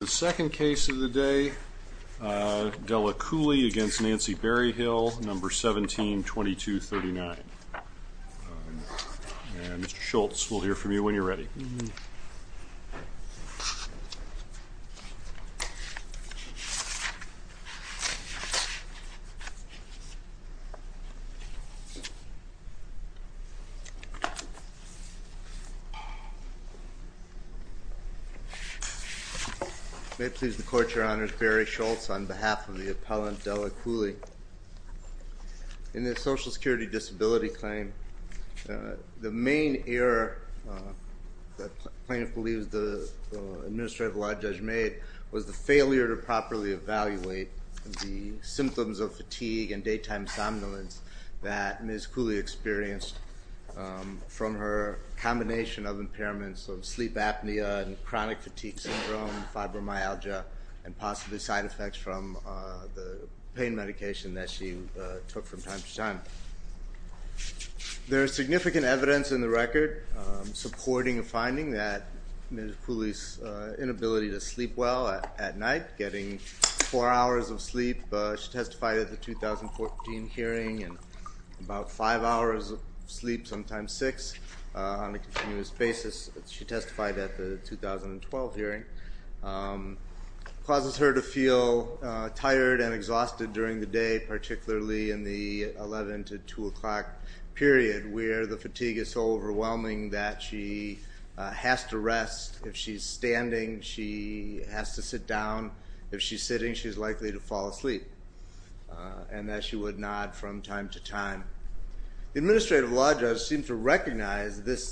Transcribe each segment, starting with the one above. The second case of the day, Della Cooley v. Nancy Berryhill, number 172239. Mr. Schultz, we'll hear from you when you're ready. May it please the Court, Your Honor, it's Barry Schultz on behalf of the appellant Della Cooley. In the social security disability claim, the main error that plaintiff believes the administrative law judge made was the failure to properly evaluate the symptoms of fatigue and daytime somnolence that Ms. Cooley experienced from her combination of impairments of sleep apnea and chronic fatigue syndrome, fibromyalgia, and possibly side effects from the pain medication that she took from time to time. There is significant evidence in the record supporting a finding that Ms. Cooley's inability to sleep well at night, getting four hours of sleep, she testified at the 2014 hearing, and about five hours of sleep, sometimes six on a continuous basis. She testified at the 2012 hearing. It causes her to feel tired and exhausted during the day, particularly in the 11 to 2 o'clock period, where the fatigue is so overwhelming that she has to rest. If she's standing, she has to sit down. If she's sitting, she's likely to fall asleep, and that she would nod from time to time. The administrative law judge seemed to recognize the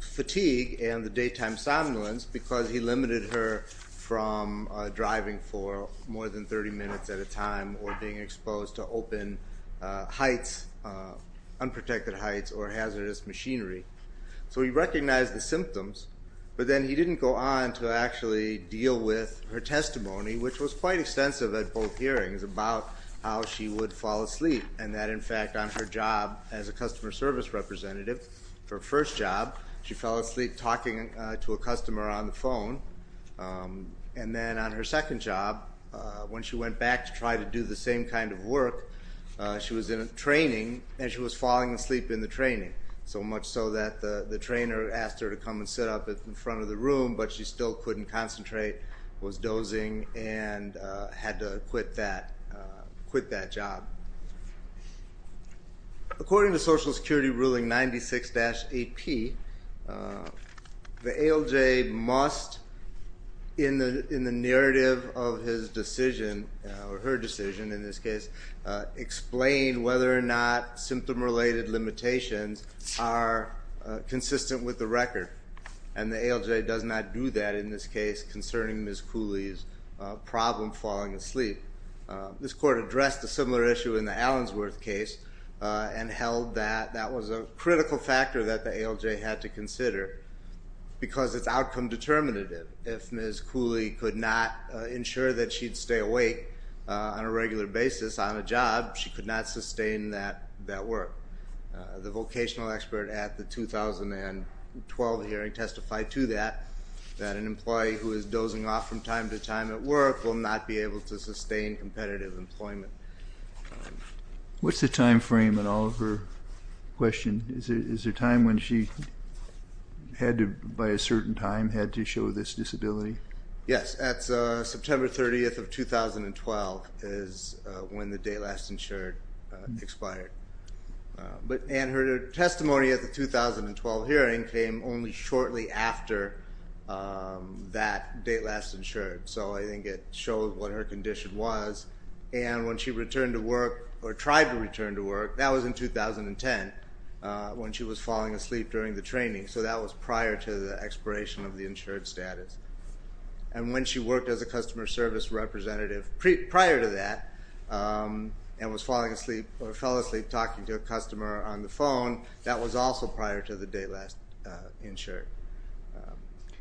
fatigue and the daytime somnolence because he limited her from driving for more than 30 minutes at a time or being exposed to open heights, unprotected heights, or hazardous machinery. So he recognized the symptoms, but then he didn't go on to actually deal with her testimony, which was quite extensive at both hearings, about how she would fall asleep, and that, in fact, on her job as a customer service representative, her first job, she fell asleep talking to a customer on the phone. And then on her second job, when she went back to try to do the same kind of work, she was in a training and she was falling asleep in the training, so much so that the trainer asked her to come and sit up in front of the room, but she still couldn't concentrate, was dozing, and had to quit that job. According to Social Security Ruling 96-8P, the ALJ must, in the narrative of his decision, or her decision in this case, explain whether or not symptom-related limitations are consistent with the record. And the ALJ does not do that in this case concerning Ms. Cooley's problem falling asleep. This court addressed a similar issue in the Allensworth case and held that that was a critical factor that the ALJ had to consider because it's outcome determinative. If Ms. Cooley could not ensure that she'd stay awake on a regular basis on a job, she could not sustain that work. The vocational expert at the 2012 hearing testified to that, that an employee who is dozing off from time to time at work will not be able to sustain competitive employment. What's the time frame in all of her questions? Is there a time when she had to, by a certain time, had to show this disability? Yes. That's September 30th of 2012 is when the date last insured expired. And her testimony at the 2012 hearing came only shortly after that date last insured. So I think it showed what her condition was. And when she returned to work, or tried to return to work, that was in 2010 when she was falling asleep during the training. So that was prior to the expiration of the insured status. And when she worked as a customer service representative prior to that and was falling asleep or fell asleep talking to a customer on the phone, that was also prior to the date last insured.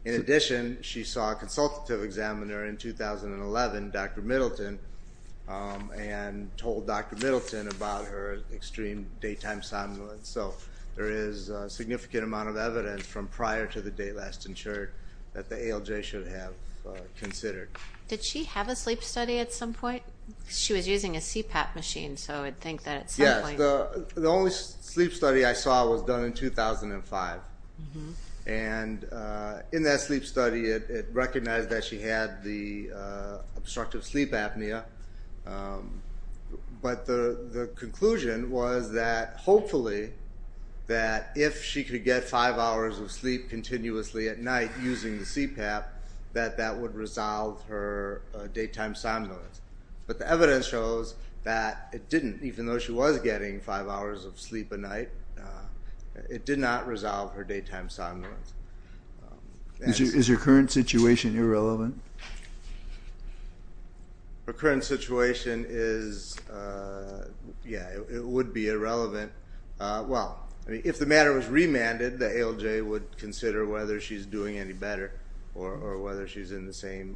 In addition, she saw a consultative examiner in 2011, Dr. Middleton, and told Dr. Middleton about her extreme daytime somnolence. So there is a significant amount of evidence from prior to the date last insured that the ALJ should have considered. Did she have a sleep study at some point? She was using a CPAP machine, so I would think that at some point. Yes. The only sleep study I saw was done in 2005. And in that sleep study, it recognized that she had the obstructive sleep apnea. But the conclusion was that, hopefully, that if she could get five hours of sleep continuously at night using the CPAP, that that would resolve her daytime somnolence. But the evidence shows that it didn't. Even though she was getting five hours of sleep a night, it did not resolve her daytime somnolence. Is her current situation irrelevant? Her current situation is, yeah, it would be irrelevant. Well, if the matter was remanded, the ALJ would consider whether she's doing any better or whether she's in the same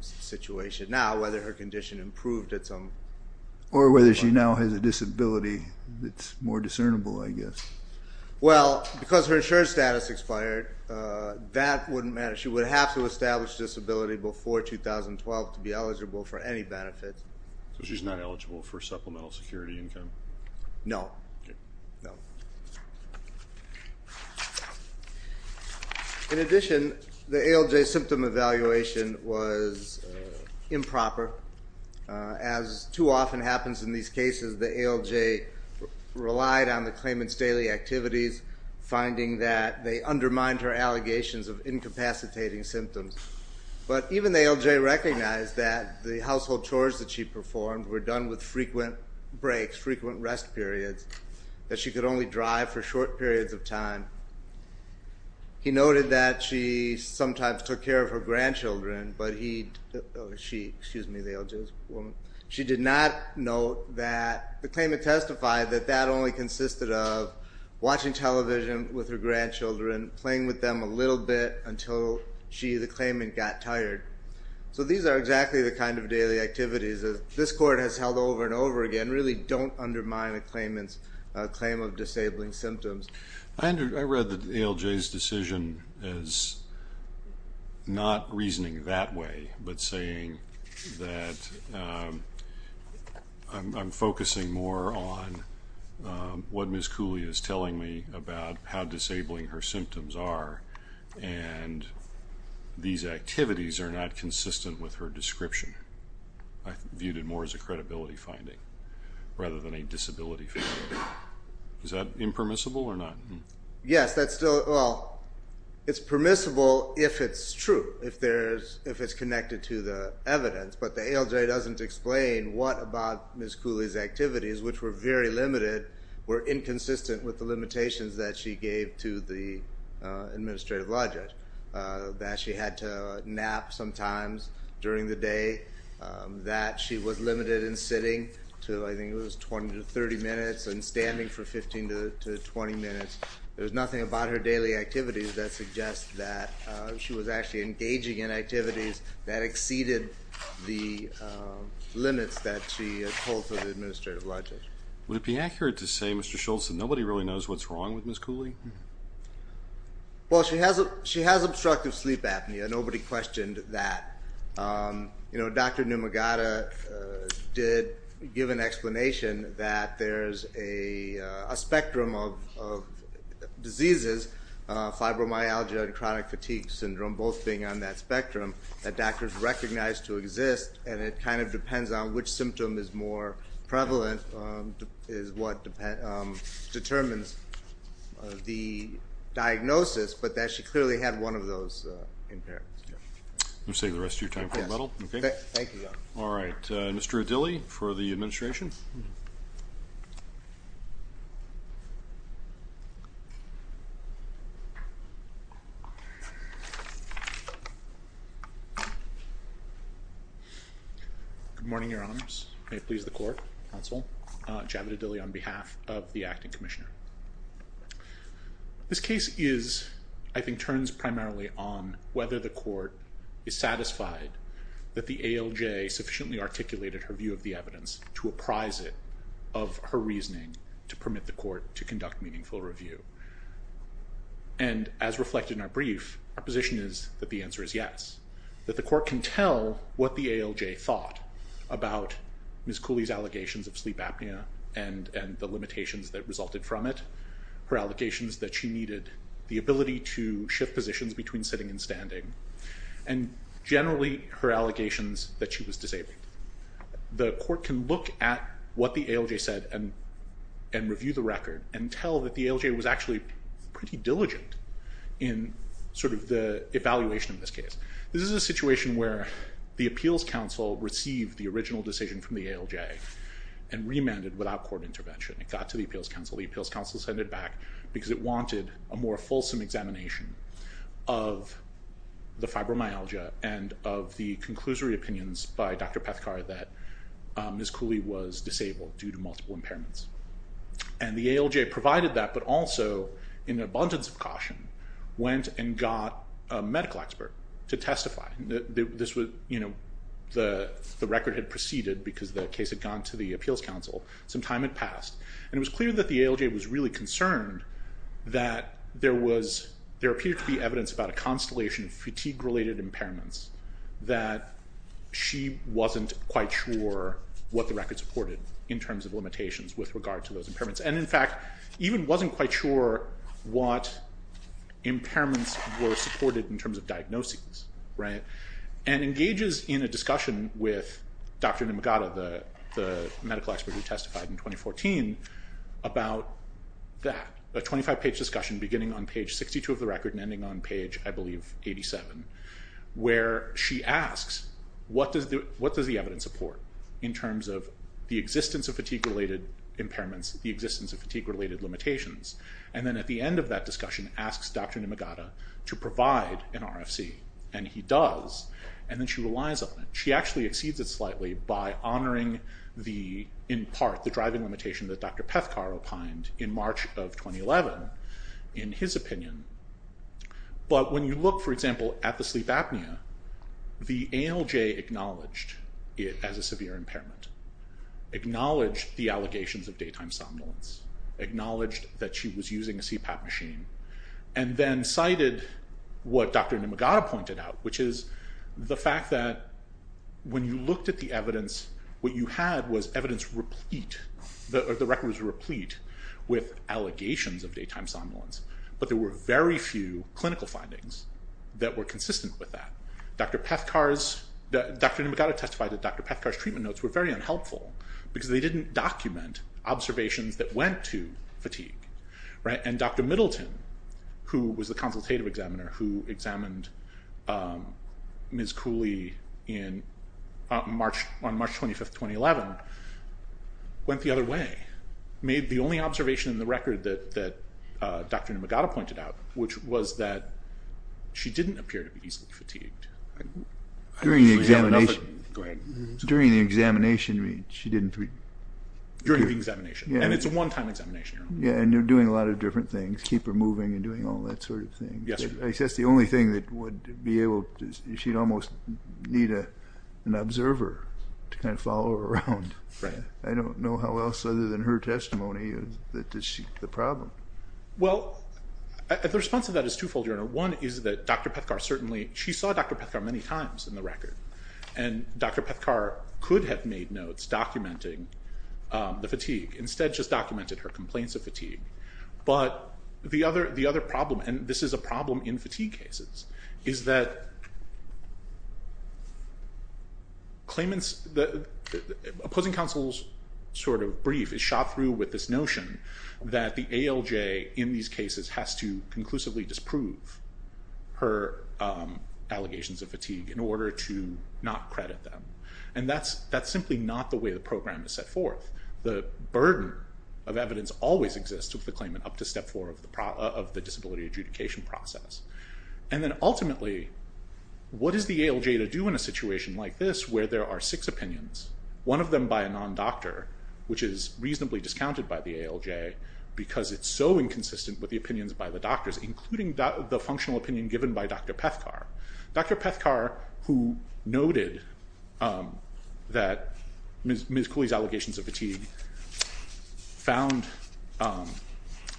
situation now, whether her condition improved at some point. Or whether she now has a disability that's more discernible, I guess. Well, because her insured status expired, that wouldn't matter. She would have to establish disability before 2012 to be eligible for any benefits. So she's not eligible for supplemental security income? No. Okay. No. In addition, the ALJ symptom evaluation was improper. As too often happens in these cases, the ALJ relied on the claimant's daily activities, finding that they undermined her allegations of incapacitating symptoms. But even the ALJ recognized that the household chores that she performed were done with frequent breaks, frequent rest periods, that she could only drive for short periods of time. He noted that she sometimes took care of her grandchildren, but he or she, excuse me, the ALJ's woman, she did not note that the claimant testified that that only consisted of watching television with her grandchildren, playing with them a little bit until she, the claimant, got tired. So these are exactly the kind of daily activities that this Court has held over and over again, really don't undermine a claimant's claim of disabling symptoms. I read the ALJ's decision as not reasoning that way, but saying that I'm focusing more on what Ms. Cooley is telling me about how disabling her symptoms are, and these activities are not consistent with her description. I viewed it more as a credibility finding rather than a disability finding. Is that impermissible or not? Yes, that's still, well, it's permissible if it's true, if it's connected to the evidence, but the ALJ doesn't explain what about Ms. Cooley's activities, which were very limited, were inconsistent with the limitations that she gave to the administrative law judge, that she had to nap sometimes during the day, that she was limited in sitting to, I think it was 20 to 30 minutes, and standing for 15 to 20 minutes. There was nothing about her daily activities that suggests that she was actually engaging in activities that exceeded the limits that she told to the administrative law judge. Would it be accurate to say, Mr. Schultz, that nobody really knows what's wrong with Ms. Cooley? Well, she has obstructive sleep apnea. Nobody questioned that. Dr. Numagata did give an explanation that there's a spectrum of diseases, fibromyalgia and chronic fatigue syndrome, both being on that spectrum, that doctors recognize to exist, and it kind of depends on which symptom is more prevalent, is what determines the diagnosis, but that she clearly had one of those impairments. I'm going to save the rest of your time for the medal. Thank you. All right. Mr. Adili for the administration. Good morning, Your Honors. May it please the Court, Counsel, Javed Adili on behalf of the Acting Commissioner. This case is, I think, turns primarily on whether the Court is satisfied that the ALJ sufficiently articulated her view of the evidence to apprise it of her reasoning to permit the Court to conduct meaningful review. And as reflected in our brief, our position is that the answer is yes, that the Court can tell what the ALJ thought about Ms. Cooley's allegations of sleep apnea and the limitations that resulted from it, her allegations that she needed the ability to shift positions between sitting and standing, and generally her allegations that she was disabled. The Court can look at what the ALJ said and review the record and tell that the ALJ was actually pretty diligent in sort of the evaluation of this case. This is a situation where the Appeals Council received the original decision from the ALJ and remanded without court intervention. It got to the Appeals Council. The Appeals Council sent it back because it wanted a more fulsome examination of the fibromyalgia and of the conclusory opinions by Dr. Pethkar that Ms. Cooley was disabled due to multiple impairments. And the ALJ provided that but also, in abundance of caution, went and got a medical expert to testify. The record had proceeded because the case had gone to the Appeals Council. Some time had passed. And it was clear that the ALJ was really concerned that there appeared to be evidence about a constellation of fatigue-related impairments, that she wasn't quite sure what the record supported in terms of limitations with regard to those impairments, and, in fact, even wasn't quite sure what impairments were supported in terms of diagnoses. And engages in a discussion with Dr. Nimagata, the medical expert who testified in 2014, about that, a 25-page discussion beginning on page 62 of the record and ending on page, I believe, 87, where she asks, what does the evidence support in terms of the existence of fatigue-related impairments, the existence of fatigue-related limitations? And then at the end of that discussion asks Dr. Nimagata to provide an RFC, and he does, and then she relies on it. She actually exceeds it slightly by honoring the, in part, the driving limitation that Dr. Pethkar opined in March of 2011, in his opinion. But when you look, for example, at the sleep apnea, the ALJ acknowledged it as a severe impairment, acknowledged the allegations of daytime somnolence, acknowledged that she was using a CPAP machine, and then cited what Dr. Nimagata pointed out, which is the fact that when you looked at the evidence, what you had was evidence replete, the record was replete with allegations of daytime somnolence, but there were very few clinical findings that were consistent with that. Dr. Nimagata testified that Dr. Pethkar's treatment notes were very unhelpful because they didn't document observations that went to fatigue. And Dr. Middleton, who was the consultative examiner, who examined Ms. Cooley on March 25, 2011, went the other way, made the only observation in the record that Dr. Nimagata pointed out, which was that she didn't appear to be easily fatigued. During the examination, she didn't. During the examination, and it's a one-time examination. Yeah, and they're doing a lot of different things, keep her moving and doing all that sort of thing. That's the only thing that would be able to, she'd almost need an observer to kind of follow her around. I don't know how else other than her testimony that she, the problem. Well, the response to that is twofold, Your Honor. One is that Dr. Pethkar certainly, she saw Dr. Pethkar many times in the record, and Dr. Pethkar could have made notes documenting the fatigue, instead just documented her complaints of fatigue. But the other problem, and this is a problem in fatigue cases, is that opposing counsel's sort of brief is shot through with this notion that the ALJ in these cases has to conclusively disprove her allegations of fatigue in order to not credit them. And that's simply not the way the program is set forth. The burden of evidence always exists with the claimant up to step four of the disability adjudication process. And then ultimately, what is the ALJ to do in a situation like this where there are six opinions, one of them by a non-doctor, which is reasonably discounted by the ALJ because it's so inconsistent with the opinions by the doctors, including the functional opinion given by Dr. Pethkar. Dr. Pethkar, who noted that Ms. Cooley's allegations of fatigue found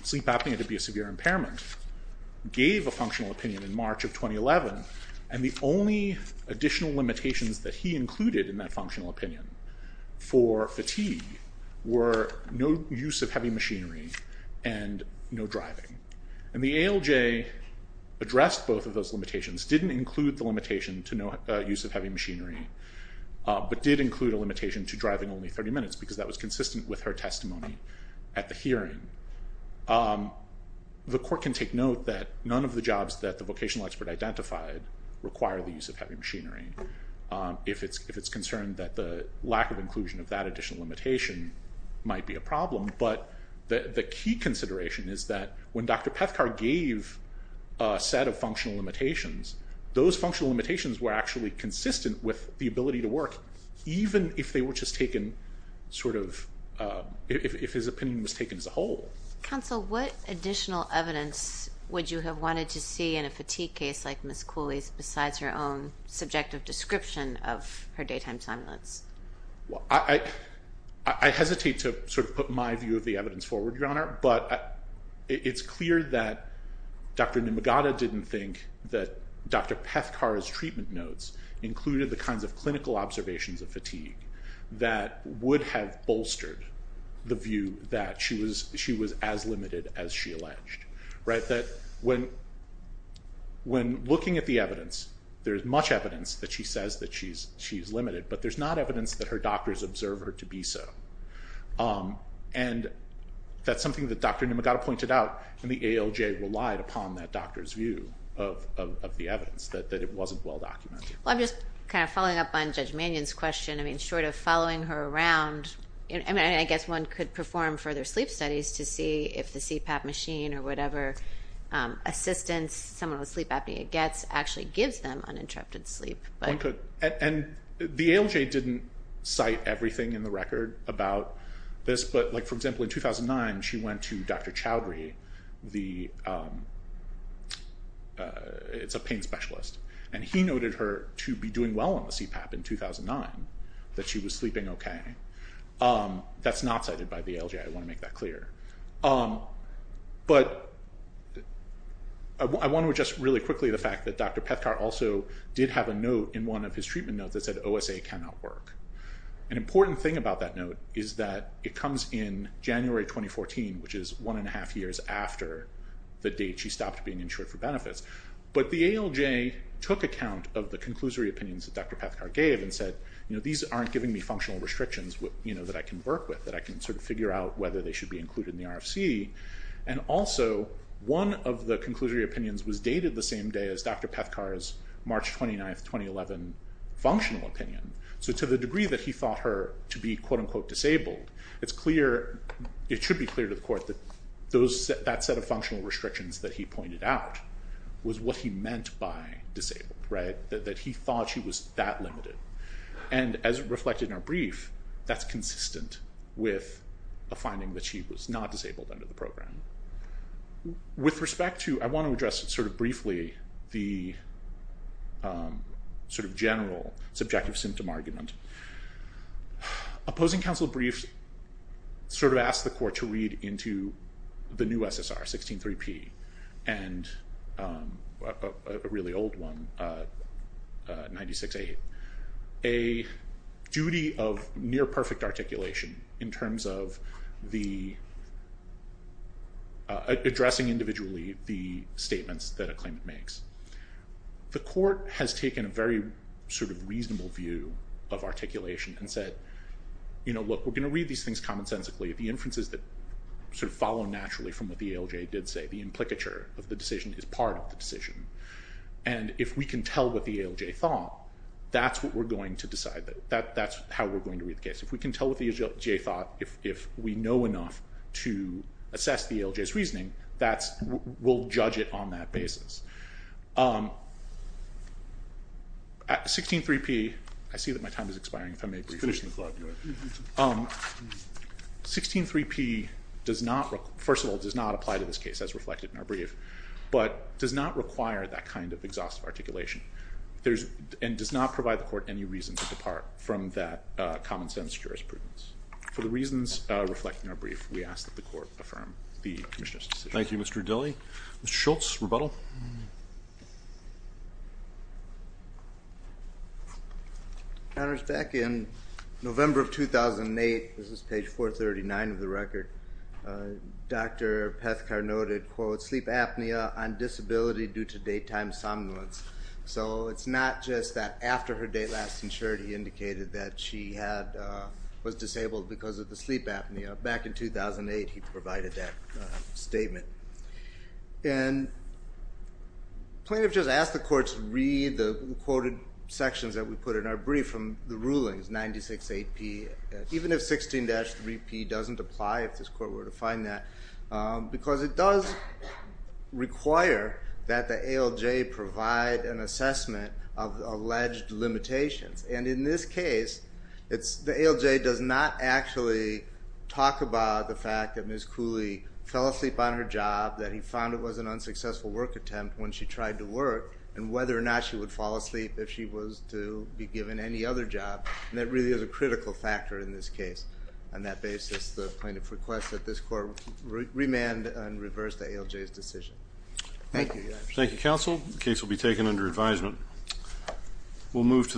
sleep apnea to be a severe impairment, gave a functional opinion in March of 2011, and the only additional limitations that he included in that functional opinion for fatigue were no use of heavy machinery and no driving. And the ALJ addressed both of those limitations, didn't include the limitation to no use of heavy machinery, but did include a limitation to driving only 30 minutes because that was consistent with her testimony at the hearing. The court can take note that none of the jobs that the vocational expert identified require the use of heavy machinery if it's concerned that the lack of inclusion of that additional limitation might be a problem. But the key consideration is that when Dr. Pethkar gave a set of functional limitations, those functional limitations were actually consistent with the ability to work, even if his opinion was taken as a whole. Counsel, what additional evidence would you have wanted to see in a fatigue case like Ms. Cooley's besides her own subjective description of her daytime simulants? I hesitate to sort of put my view of the evidence forward, Your Honor, but it's clear that Dr. Numagata didn't think that Dr. Pethkar's treatment notes included the kinds of clinical observations of fatigue that would have bolstered the view that she was as limited as she alleged. When looking at the evidence, there's much evidence that she says that she's limited, but there's not evidence that her doctors observe her to be so. And that's something that Dr. Numagata pointed out, and the ALJ relied upon that doctor's view of the evidence, that it wasn't well-documented. I'm just kind of following up on Judge Mannion's question. Short of following her around, I guess one could perform further sleep studies to see if the CPAP machine or whatever assistance someone with sleep apnea gets actually gives them uninterrupted sleep. And the ALJ didn't cite everything in the record about this, but, for example, in 2009 she went to Dr. Chowdhury, it's a pain specialist, and he noted her to be doing well on the CPAP in 2009, that she was sleeping okay. That's not cited by the ALJ, I want to make that clear. But I want to address really quickly the fact that Dr. Pethkar also did have a note in one of his treatment notes that said OSA cannot work. An important thing about that note is that it comes in January 2014, which is one and a half years after the date she stopped being insured for benefits. But the ALJ took account of the conclusory opinions that Dr. Pethkar gave and said, these aren't giving me functional restrictions that I can work with, that I can figure out whether they should be included in the RFC. And also one of the conclusory opinions was dated the same day as Dr. Pethkar's March 29, 2011 functional opinion. So to the degree that he thought her to be, quote-unquote, disabled, it should be clear to the court that that set of functional restrictions that he pointed out was what he meant by disabled, that he thought she was that limited. And as reflected in our brief, that's consistent with a finding that she was not disabled under the program. With respect to, I want to address sort of briefly the sort of general subjective symptom argument. Opposing counsel briefs sort of asked the court to read into the new SSR, 163P, and a really old one, 96A, a duty of near-perfect articulation in terms of addressing individually the statements that a claimant makes. The court has taken a very sort of reasonable view of articulation and said, you know, look, we're going to read these things commonsensically. The inferences that sort of follow naturally from what the ALJ did say, the implicature of the decision is part of the decision. And if we can tell what the ALJ thought, that's what we're going to decide. That's how we're going to read the case. If we can tell what the ALJ thought, if we know enough to assess the ALJ's reasoning, we'll judge it on that basis. 163P does not, first of all, does not apply to this case as reflected in our brief, but does not require that kind of exhaustive articulation and does not provide the court any reason to depart from that commonsense jurisprudence. For the reasons reflected in our brief, we ask that the court affirm the Commissioner's decision. Thank you, Mr. Dilley. Mr. Schultz, rebuttal. Well, back in November of 2008, this is page 439 of the record, Dr. Pethkar noted, quote, sleep apnea on disability due to date time somnolence. So it's not just that after her date last insured, he indicated that she was disabled because of the sleep apnea. Back in 2008, he provided that statement. And plaintiff just asked the court to read the quoted sections that we put in our brief from the rulings, 96AP, even if 16-3P doesn't apply, if this court were to find that, because it does require that the ALJ provide an assessment of alleged limitations. And in this case, the ALJ does not actually talk about the fact that Ms. Cooley fell asleep on her job, that he found it was an unsuccessful work attempt when she tried to work, and whether or not she would fall asleep if she was to be given any other job. And that really is a critical factor in this case. On that basis, the plaintiff requests that this court remand and reverse the ALJ's decision. Thank you. Thank you, counsel. The case will be taken under advisement.